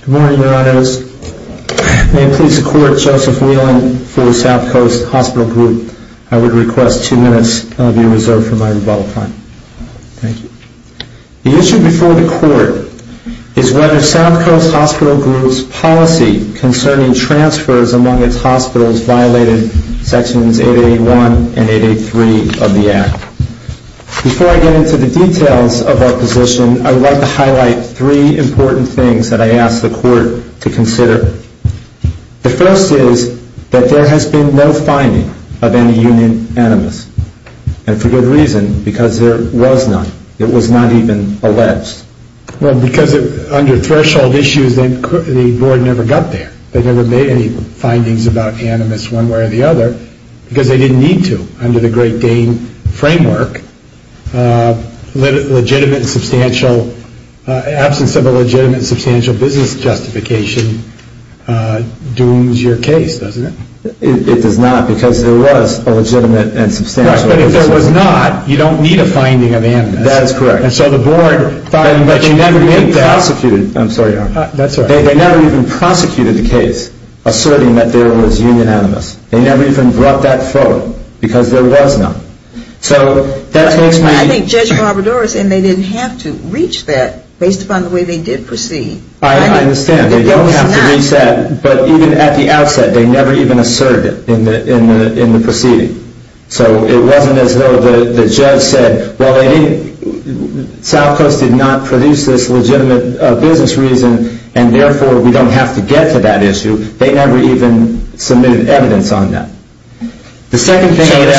Good morning, Your Honors. May it please the Court, Joseph Whelan for Southcoast Hospital Group. I would request two minutes of your reserve for my rebuttal time. Thank you. The issue before the Court is whether Southcoast Hospital Group's policy concerning transfers among its hospitals violated Sections 881 and 883 of the Act. Before I get into the details of our position, I would like to highlight three important things that I ask the Court to consider. The first is that there has been no finding of any union animus, and for good reason, because there was none. It was not even alleged. Well, because under threshold issues, the Board never got there. They never made any findings about animus one way or the other, because they didn't need to. Under the Great Dane framework, absence of a legitimate and substantial business justification dooms your case, doesn't it? It does not, because there was a legitimate and substantial business justification. Right, but if there was not, you don't need a finding of animus. That is correct, but they never even prosecuted the case, asserting that there was union animus. They never even brought that forward, because there was none. I think Judge Barbador is saying they didn't have to reach that, based upon the way they did proceed. I understand. They don't have to reach that, but even at the outset, they never even asserted it in the proceeding. So it wasn't as though the judge said, well, South Coast did not produce this legitimate business reason, and therefore we don't have to get to that issue. They never even submitted evidence on that. So you're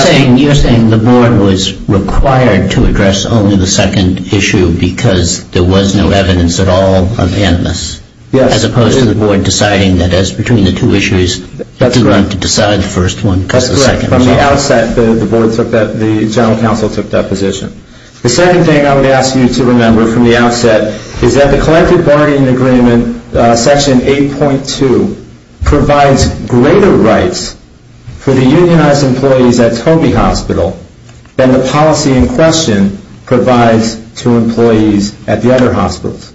saying the board was required to address only the second issue, because there was no evidence at all on animus? Yes. As opposed to the board deciding that, as between the two issues, they were going to decide the first one, because the second was wrong. That's correct. From the outset, the board took that, the general counsel took that position. The second thing I would ask you to remember from the outset is that the collective bargaining agreement, section 8.2, provides greater rights for the unionized employees at Toby Hospital than the policy in question provides to employees at the other hospitals.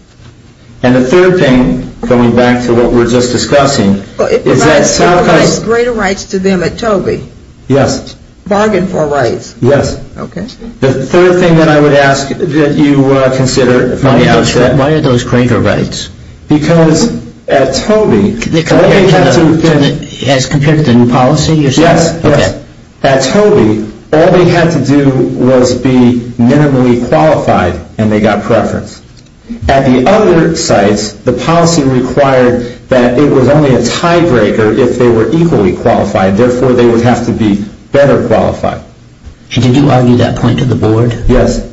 And the third thing, going back to what we were just discussing, is that South Coast... It provides greater rights to them at Toby. Yes. Bargain for rights. Yes. Okay. The third thing that I would ask that you consider from the outset... Why are those greater rights? Because at Toby... As compared to the policy? Yes. Okay. At Toby, all they had to do was be minimally qualified, and they got preference. At the other sites, the policy required that it was only a tiebreaker if they were equally qualified. Therefore, they would have to be better qualified. Did you argue that point to the board? Yes.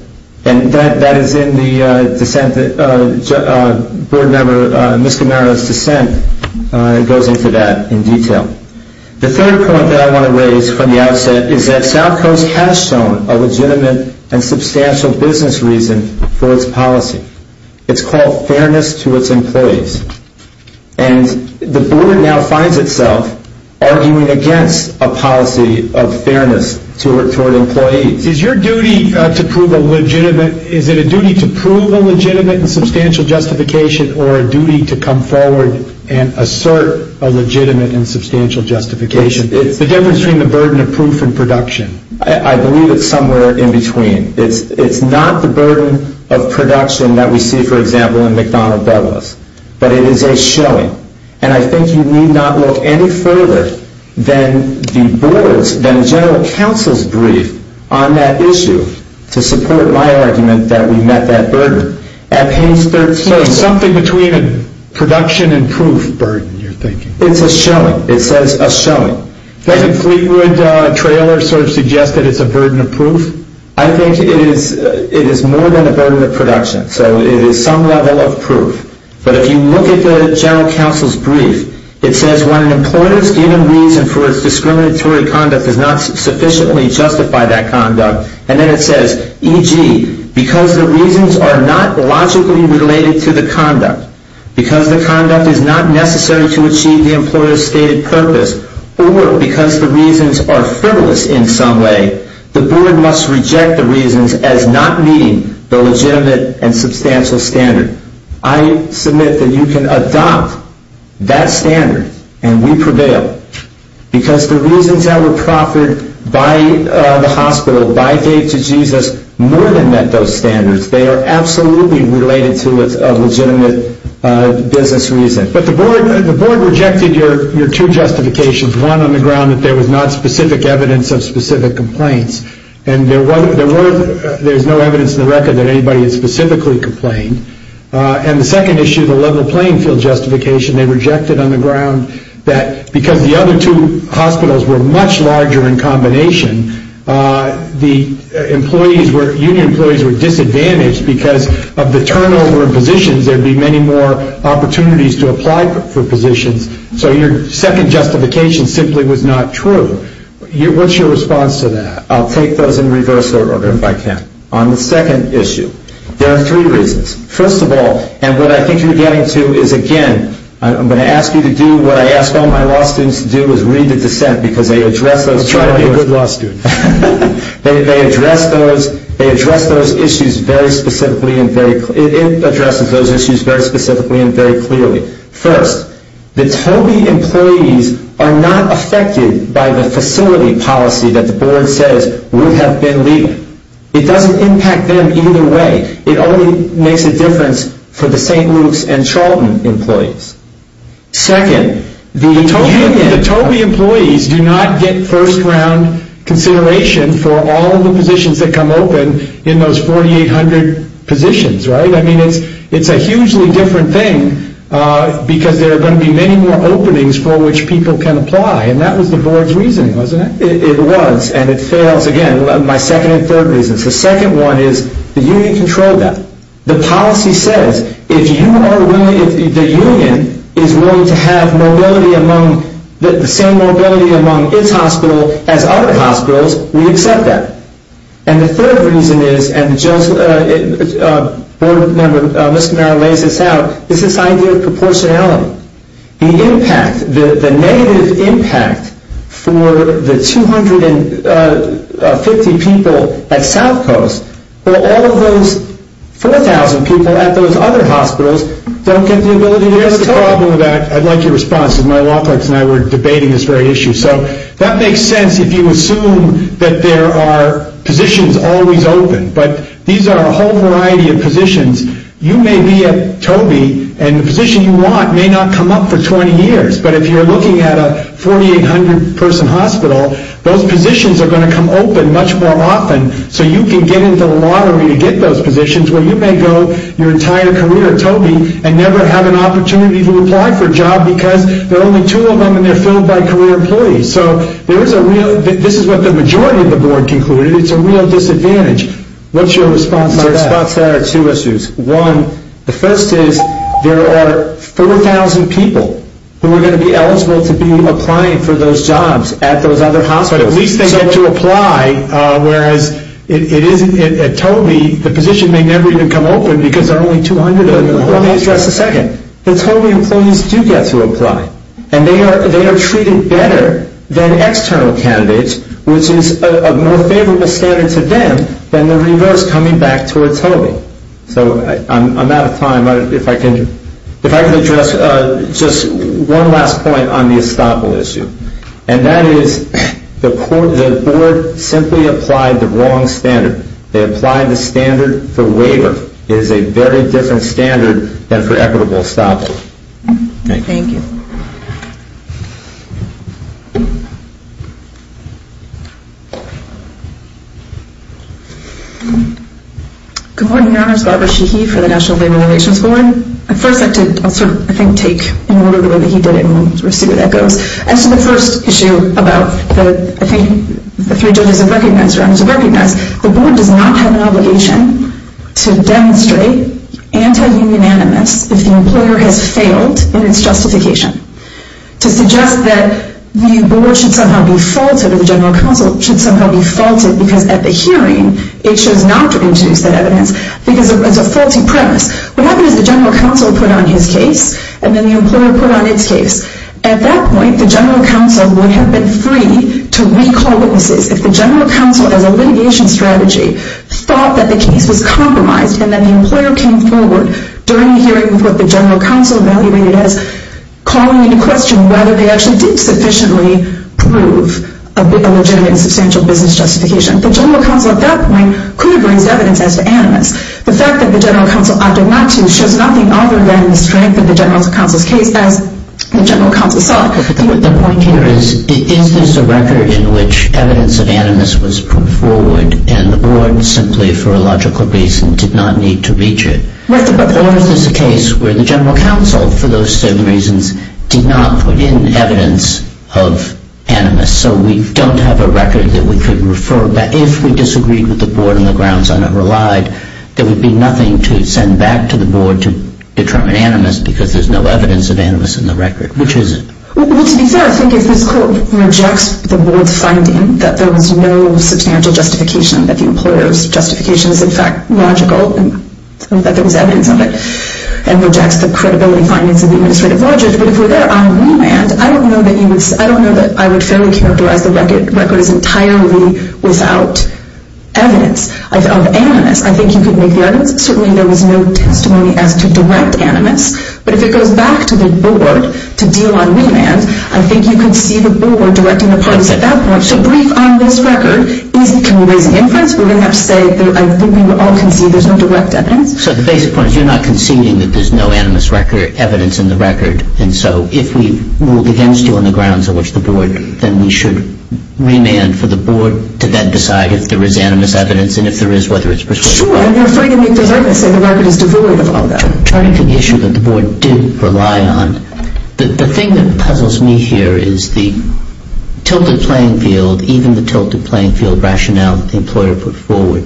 And that is in the board member, Ms. Camaro's, dissent. It goes into that in detail. The third point that I want to raise from the outset is that South Coast has shown a legitimate and substantial business reason for its policy. It's called fairness to its employees. And the board now finds itself arguing against a policy of fairness toward employees. Is your duty to prove a legitimate... Is it a duty to prove a legitimate and substantial justification or a duty to come forward and assert a legitimate and substantial justification? It's the difference between the burden of proof and production. I believe it's somewhere in between. It's not the burden of production that we see, for example, in McDonnell Douglas. But it is a showing. And I think you need not look any further than the board's, than the general counsel's, brief on that issue to support my argument that we met that burden. At page 13... So it's something between a production and proof burden, you're thinking. It's a showing. It says a showing. Doesn't Fleetwood trailer sort of suggest that it's a burden of proof? I think it is more than a burden of production. So it is some level of proof. But if you look at the general counsel's brief, it says when an employer's given reason for its discriminatory conduct does not sufficiently justify that conduct, and then it says, e.g., because the reasons are not logically related to the conduct, because the conduct is not necessary to achieve the employer's stated purpose, or because the reasons are frivolous in some way, the board must reject the reasons as not meeting the legitimate and substantial standard. I submit that you can adopt that standard, and we prevail, because the reasons that were proffered by the hospital, by Dave to Jesus, more than met those standards. They are absolutely related to a legitimate business reason. But the board rejected your two justifications. One on the ground that there was not specific evidence of specific complaints, and there's no evidence in the record that anybody had specifically complained. And the second issue, the level playing field justification, they rejected on the ground that because the other two hospitals were much larger in combination, there'd be many more opportunities to apply for positions. So your second justification simply was not true. What's your response to that? I'll take those in reverse order if I can. On the second issue, there are three reasons. First of all, and what I think you're getting to is, again, I'm going to ask you to do what I ask all my law students to do, is read the dissent, because they address those issues. I'll try to be a good law student. They address those issues very specifically and very clearly. It addresses those issues very specifically and very clearly. First, the TOBI employees are not affected by the facility policy that the board says would have been legal. It doesn't impact them either way. It only makes a difference for the St. Luke's and Charlton employees. Second, the TOBI employees do not get first-round consideration for all of the positions that come open in those 4,800 positions, right? I mean, it's a hugely different thing because there are going to be many more openings for which people can apply, and that was the board's reasoning, wasn't it? It was, and it fails, again, my second and third reasons. The second one is the union controlled that. The policy says if you are willing, if the union is willing to have mobility among, the same mobility among its hospital as other hospitals, we accept that. And the third reason is, and the board member, Mr. Merrill, lays this out, is this idea of proportionality. The impact, the negative impact for the 250 people at South Coast, where all of those 4,000 people at those other hospitals don't get the ability to get the TOBI. Here's the problem with that. I'd like your response because my law clerks and I were debating this very issue. So that makes sense if you assume that there are positions always open, but these are a whole variety of positions. You may be at TOBI, and the position you want may not come up for 20 years, but if you're looking at a 4,800-person hospital, those positions are going to come open much more often so you can get into the lottery to get those positions where you may go your entire career at TOBI and never have an opportunity to apply for a job because there are only two of them and they're filled by career employees. So this is what the majority of the board concluded. It's a real disadvantage. What's your response to that? My response to that are two issues. One, the first is there are 4,000 people who are going to be eligible to be applying for those jobs at those other hospitals. But at least they get to apply, whereas at TOBI, the position may never even come open because there are only 200 of them. Let me address the second. At TOBI, employees do get to apply, and they are treated better than external candidates, which is a more favorable standard to them than the reverse coming back towards TOBI. So I'm out of time. If I can address just one last point on the estoppel issue, and that is the board simply applied the wrong standard. They applied the standard for waiver. It is a very different standard than for equitable estoppel. Thank you. Thank you. Good morning. My name is Barbara Sheehy for the National Labor Relations Board. First, I'll sort of, I think, take in order the way that he did it and we'll see where that goes. As to the first issue about the, I think, the three judges have recognized or others have recognized, the board does not have an obligation to demonstrate anti-unanimous if the employer has failed in its justification. To suggest that the board should somehow be faulted or the general counsel should somehow be faulted because at the hearing, it shows not to introduce that evidence because it's a faulty premise. What happens is the general counsel put on his case and then the employer put on its case. At that point, the general counsel would have been free to recall witnesses if the general counsel as a litigation strategy thought that the case was compromised and then the employer came forward during the hearing with what the general counsel evaluated as calling into question whether they actually did sufficiently prove a legitimate and substantial business justification. The general counsel at that point could have raised evidence as to animus. The fact that the general counsel opted not to shows nothing other than the strength of the general counsel's case as the general counsel saw it. The point here is, is this a record in which evidence of animus was put forward and the board, simply for a logical reason, did not need to reach it? Right. Or is this a case where the general counsel, for those same reasons, did not put in evidence of animus so we don't have a record that we could refer back. If we disagreed with the board on the grounds I never lied, there would be nothing to send back to the board to determine animus because there's no evidence of animus in the record, which is it? Well, to be fair, I think if this court rejects the board's finding that there was no substantial justification, that the employer's justification is in fact logical and that there was evidence of it, and rejects the credibility findings of the administrative logic, but if we're there on remand, I don't know that I would fairly characterize the record as entirely without evidence of animus. I think you could make the argument that certainly there was no testimony as to direct animus, but if it goes back to the board to deal on remand, I think you could see the board directing the parties at that point. So brief on this record, can we raise an inference? We're going to have to say I think we all concede there's no direct evidence. So the basic point is you're not conceding that there's no animus evidence in the record, and so if we move against you on the grounds on which the board, then we should remand for the board to then decide if there is animus evidence, and if there is, whether it's persuasive or not. Sure, and you're afraid to make the argument that the record is devoid of all that. Turning to the issue that the board did rely on, the thing that puzzles me here is the tilted playing field, even the tilted playing field rationale that the employer put forward.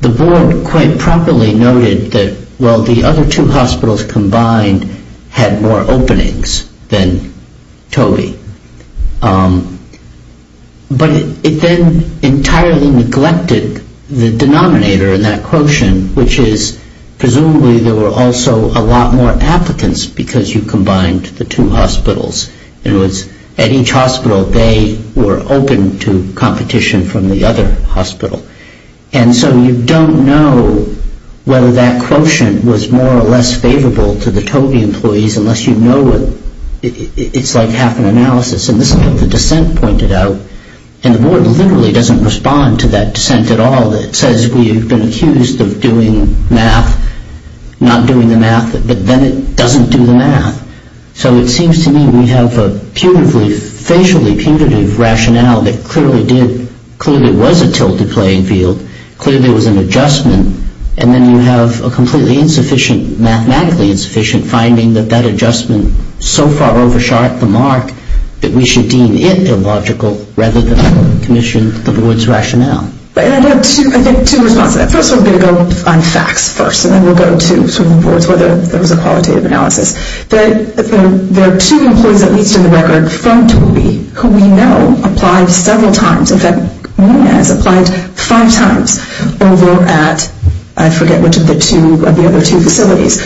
The board quite properly noted that while the other two hospitals combined had more openings than Toby, but it then entirely neglected the denominator in that quotient, which is presumably there were also a lot more applicants because you combined the two hospitals. It was at each hospital they were open to competition from the other hospital, and so you don't know whether that quotient was more or less favorable to the Toby employees unless you know it. It's like half an analysis, and this is what the dissent pointed out, and the board literally doesn't respond to that dissent at all. It says we've been accused of doing math, not doing the math, but then it doesn't do the math. So it seems to me we have a facially putative rationale that clearly did, clearly was a tilted playing field, clearly was an adjustment, and then you have a completely insufficient, mathematically insufficient, finding that that adjustment so far oversharped the mark that we should deem it illogical rather than commission the board's rationale. I think two responses. First, we're going to go on facts first, and then we'll go to whether there was a qualitative analysis. There are two employees, at least in the record, from Toby who we know applied several times. In fact, Munez applied five times over at, I forget which of the other two facilities.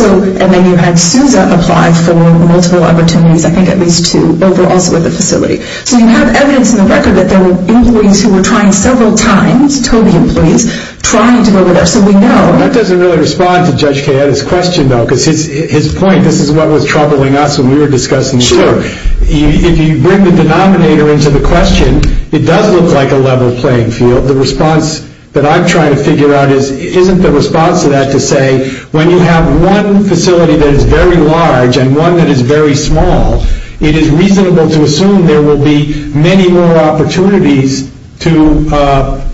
And then you had Sousa apply for multiple opportunities, I think at least two, over also at the facility. So you have evidence in the record that there were employees who were trying several times, Toby employees, trying to go over there. So we know. That doesn't really respond to Judge Cayette's question, though, because his point, this is what was troubling us when we were discussing the term. Sure. If you bring the denominator into the question, it does look like a level playing field. The response that I'm trying to figure out isn't the response to that to say when you have one facility that is very large and one that is very small, it is reasonable to assume there will be many more opportunities to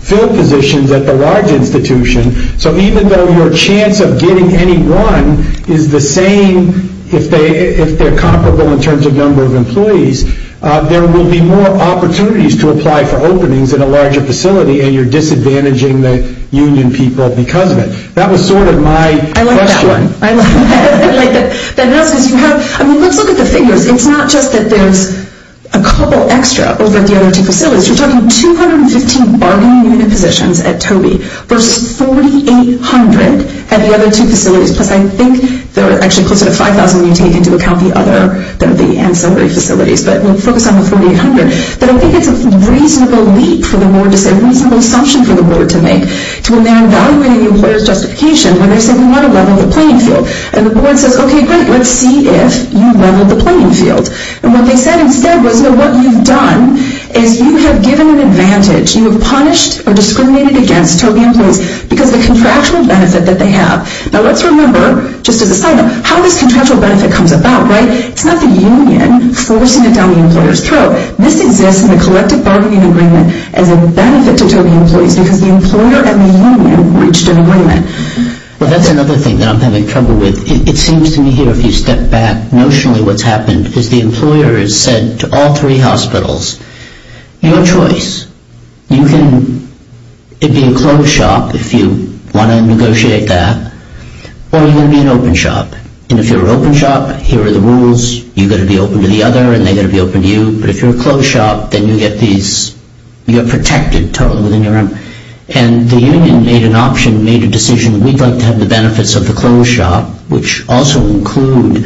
fill positions at the large institution. So even though your chance of getting any one is the same, if they're comparable in terms of number of employees, there will be more opportunities to apply for openings at a larger facility and you're disadvantaging the union people because of it. That was sort of my question. I like that one. I like that. Let's look at the figures. It's not just that there's a couple extra over at the other two facilities. You're talking 215 bargaining unit positions at Toby versus 4,800 at the other two facilities, plus I think they're actually closer to 5,000 when you take into account the other, the ancillary facilities. But we'll focus on the 4,800. But I think it's a reasonable leap for the board to say, a reasonable assumption for the board to make to when they're evaluating the employer's justification when they say we want to level the playing field. And the board says, okay, great. Let's see if you've leveled the playing field. And what they said instead was, no, what you've done is you have given an advantage. You have punished or discriminated against Toby employees because of the contractual benefit that they have. Now, let's remember, just as a side note, how this contractual benefit comes about, right? It's not the union forcing it down the employer's throat. This exists in the collective bargaining agreement as a benefit to Toby employees because the employer and the union reached an agreement. Well, that's another thing that I'm having trouble with. It seems to me here, if you step back notionally, what's happened is the employer has said to all three hospitals, your choice. You can be a closed shop if you want to negotiate that or you can be an open shop. And if you're an open shop, here are the rules. You've got to be open to the other and they've got to be open to you. But if you're a closed shop, then you get these, you're protected totally within your own. And the union made an option, made a decision, we'd like to have the benefits of the closed shop, which also include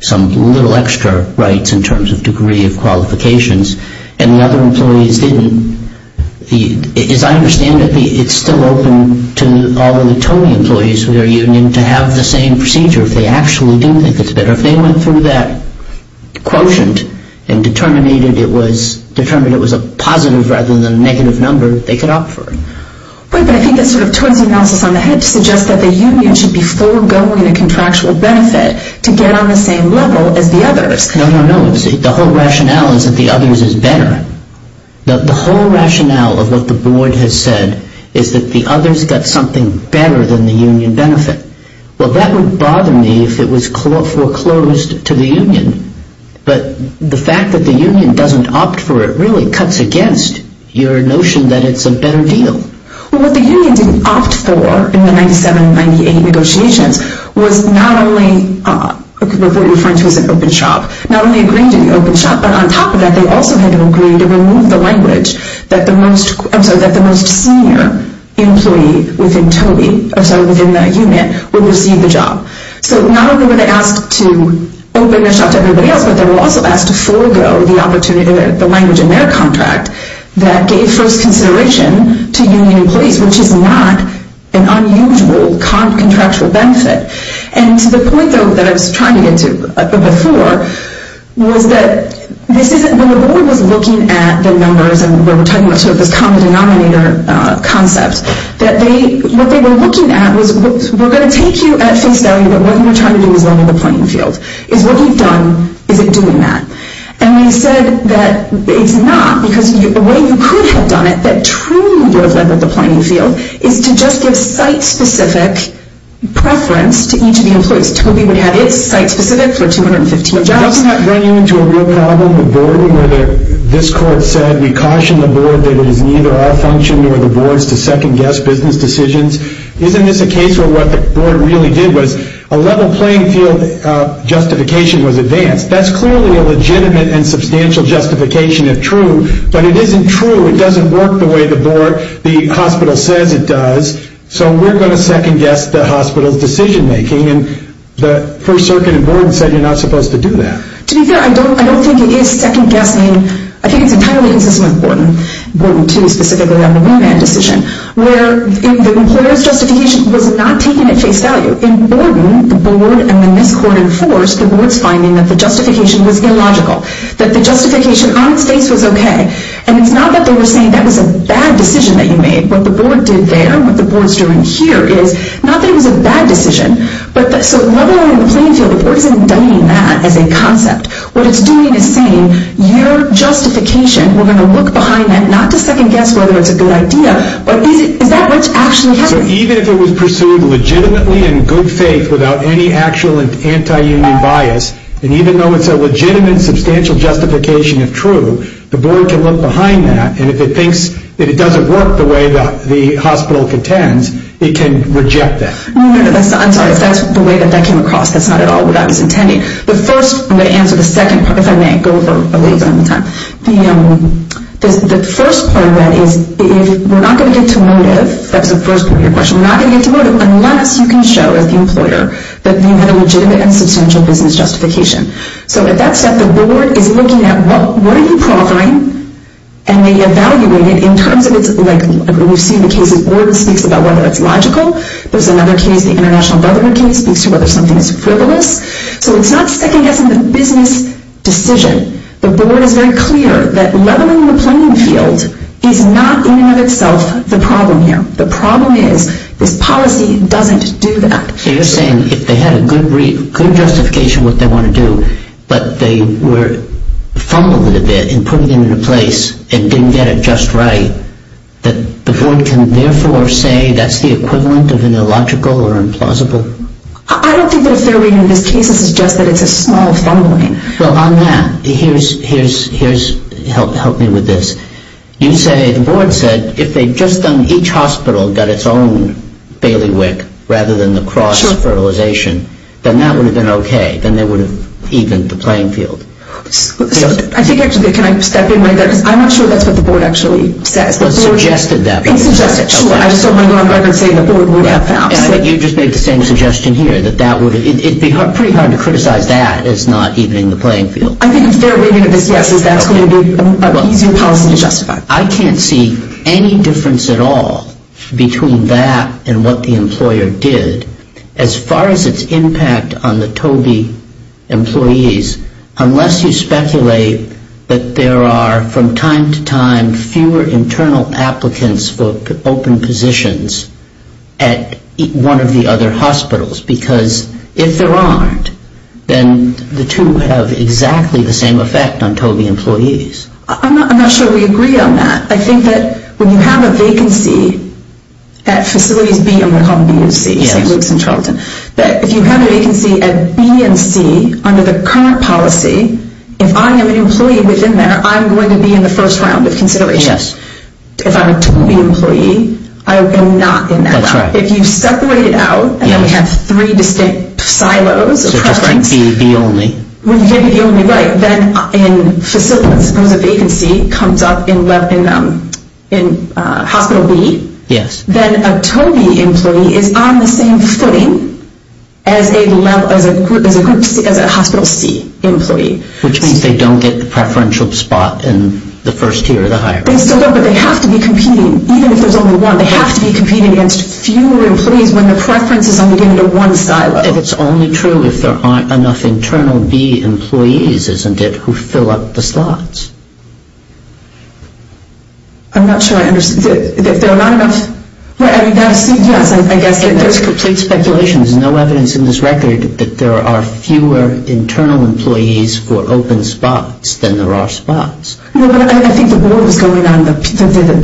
some little extra rights in terms of degree of qualifications. And the other employees didn't. As I understand it, it's still open to all of the Toby employees with their union to have the same procedure if they actually do think it's better. If they went through that quotient and determined it was a positive rather than a negative number, they could opt for it. But I think that's sort of Toby's analysis on the head to suggest that the union should be foregoing a contractual benefit to get on the same level as the others. No, no, no. The whole rationale is that the others is better. The whole rationale of what the board has said is that the others got something better than the union benefit. Well, that would bother me if it was foreclosed to the union. But the fact that the union doesn't opt for it really cuts against your notion that it's a better deal. Well, what the union didn't opt for in the 1997-98 negotiations was not only what you're referring to as an open shop, not only agreeing to the open shop, but on top of that, they also had to agree to remove the language that the most senior employee within Toby, or sorry, within that unit, would receive the job. So not only were they asked to open the shop to everybody else, but they were also asked to forego the language in their contract that gave first consideration to union employees, which is not an unusual contractual benefit. And to the point, though, that I was trying to get to before was that when the board was looking at the numbers and we were talking about this common denominator concept, what they were looking at was we're going to take you at face value but what you're trying to do is level the playing field. Is what you've done, is it doing that? And we said that it's not because the way you could have done it that truly would have leveled the playing field is to just give site-specific preference to each of the employees. Toby would have it site-specific for 215 jobs. Doesn't that bring you into a real problem with the board where this court said we caution the board that it is neither our function nor the board's to second-guess business decisions? Isn't this a case where what the board really did was a level playing field justification was advanced. That's clearly a legitimate and substantial justification if true, but it isn't true, it doesn't work the way the board, the hospital says it does, so we're going to second-guess the hospital's decision-making and the First Circuit and board said you're not supposed to do that. To be fair, I don't think it is second-guessing, I think it's entirely consistent with Borden, Borden 2 specifically on the wingman decision, where the employer's justification was not taken at face value. In Borden, the board and in this court in force, the board's finding that the justification was illogical, that the justification on its face was okay and it's not that they were saying that was a bad decision that you made, what the board did there and what the board's doing here is not that it was a bad decision, so leveling the playing field, the board isn't indicting that as a concept. What it's doing is saying your justification, we're going to look behind that not to second-guess whether it's a good idea, but is that what's actually happening? So even if it was pursued legitimately in good faith without any actual anti-union bias, and even though it's a legitimate substantial justification if true, the board can look behind that, and if it thinks that it doesn't work the way that the hospital contends, it can reject that. I'm sorry, if that's the way that that came across, that's not at all what I was intending. The first, I'm going to answer the second part if I may, go over a little bit more time. The first part of that is we're not going to get to motive, that's the first part of your question, we're not going to get to motive unless you can show as the employer that you had a legitimate and substantial business justification. So at that step, the board is looking at what are you qualifying, and they evaluate it in terms of, we've seen the cases where the board speaks about whether it's logical, there's another case, the International Brotherhood case, speaks to whether something is frivolous. So it's not second-guessing the business decision. The board is very clear that leveling the playing field is not in and of itself the problem here. The problem is this policy doesn't do that. So you're saying if they had a good justification what they want to do, but they were fumbled a bit in putting it into place and didn't get it just right, that the board can therefore say that's the equivalent of illogical or implausible? I don't think that a fair reading of this case, this is just that it's a small fumbling. Well, on that, here's, help me with this, you say, the board said, if they just on each hospital got its own bailiwick rather than the cross-fertilization, then that would have been okay. Then they would have evened the playing field. I think, actually, can I step in right there? Because I'm not sure that's what the board actually says. But it suggested that. It suggested it. Sure, I just don't want to go on record saying the board would have found... You just made the same suggestion here, that it would be pretty hard to criticize that as not evening the playing field. I think a fair reading of this, yes, is that's going to be an easier policy to justify. I can't see any difference at all between that and what the employer did. As far as its impact on the TOBI employees, unless you speculate that there are, from time to time, fewer internal applicants for open positions at one of the other hospitals, because if there aren't, then the two have exactly the same effect on TOBI employees. I'm not sure we agree on that. I think that when you have a vacancy at facilities B, I'm going to call them B and C, St. Luke's and Charlton, that if you have a vacancy at B and C, under the current policy, if I am an employee within there, I'm going to be in the first round of consideration. If I'm a TOBI employee, I am not in that round. If you separate it out, and then we have three distinct silos of preference... So just like B only. Within the only, right. If a vacancy comes up in hospital B, then a TOBI employee is on the same footing as a hospital C employee. Which means they don't get the preferential spot in the first tier of the hierarchy. They still don't, but they have to be competing, even if there's only one. They have to be competing against fewer employees when the preference is only given to one silo. If it's only true if there aren't enough internal B employees, isn't it, who fill up the slots? I'm not sure I understand. If there are not enough... Yes, I guess there's complete speculation. There's no evidence in this record that there are fewer internal employees for open spots than there are spots. No, but I think the board was going on the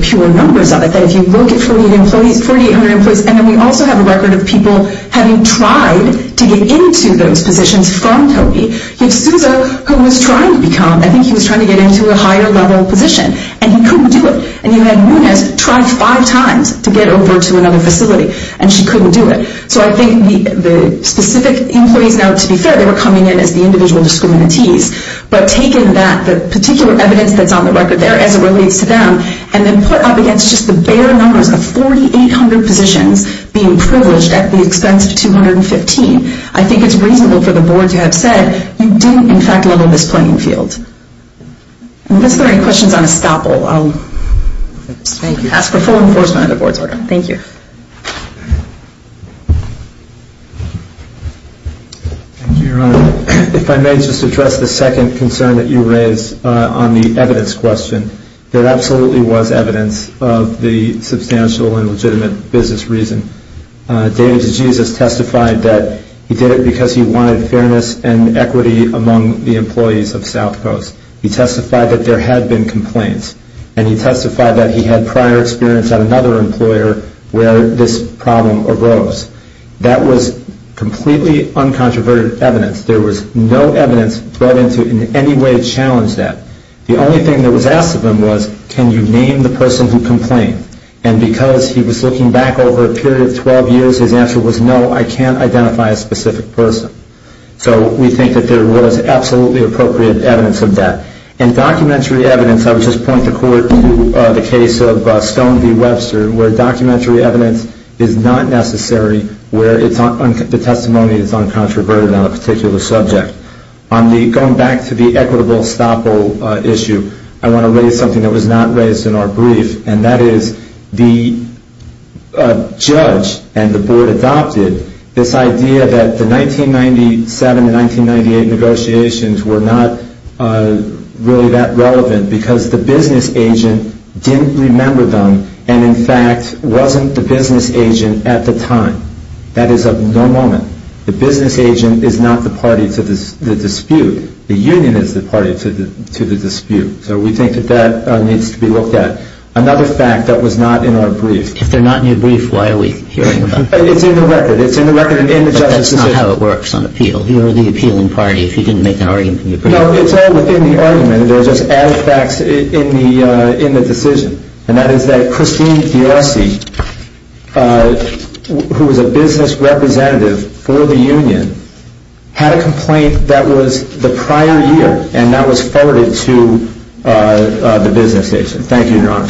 pure numbers of it, that if you look at 48 employees, 4,800 employees, and then we also have a record of people having tried to get into those positions from TOBI. You have Sousa, who was trying to become... I think he was trying to get into a higher level position, and he couldn't do it. And you have Nunes, tried five times to get over to another facility, and she couldn't do it. So I think the specific employees, now to be fair, they were coming in as the individual discriminantees, but taking that, the particular evidence that's on the record there as it relates to them, and then put up against just the bare numbers of 4,800 positions being privileged at the expense of 215. I think it's reasonable for the board to have said, you didn't in fact level this playing field. Unless there are any questions on estoppel, I'll ask for full enforcement of the board's order. Thank you. Thank you, Your Honor. If I may just address the second concern that you raised on the evidence question. There absolutely was evidence of the substantial and legitimate business reason. David DeJesus testified that he did it because he wanted fairness and equity among the employees of South Coast. He testified that there had been complaints, and he testified that he had prior experience at another employer where this problem arose. That was completely uncontroverted evidence. There was no evidence brought into it in any way to challenge that. The only thing that was asked of him was, can you name the person who complained? And because he was looking back over a period of 12 years, his answer was, no, I can't identify a specific person. So we think that there was absolutely appropriate evidence of that. And documentary evidence, I would just point the court to the case of Stone v. Webster, where documentary evidence is not necessary where the testimony is uncontroverted on a particular subject. Going back to the equitable estoppel issue, I want to raise something that was not raised in our brief, and that is the judge and the board adopted this idea that the 1997-1998 negotiations were not really that relevant because the business agent didn't remember them and, in fact, wasn't the business agent at the time. That is of no moment. The business agent is not the party to the dispute. The union is the party to the dispute. So we think that that needs to be looked at. Another fact that was not in our brief. If they're not in your brief, why are we hearing about them? It's in the record. It's in the record and in the judge's decision. But that's not how it works on appeal. You're the appealing party. If you didn't make an argument, can you prove it? No, it's all within the argument, and there are just added facts in the decision, and that is that Christine Diossi, who was a business representative for the union, had a complaint that was the prior year and that was forwarded to the business agent.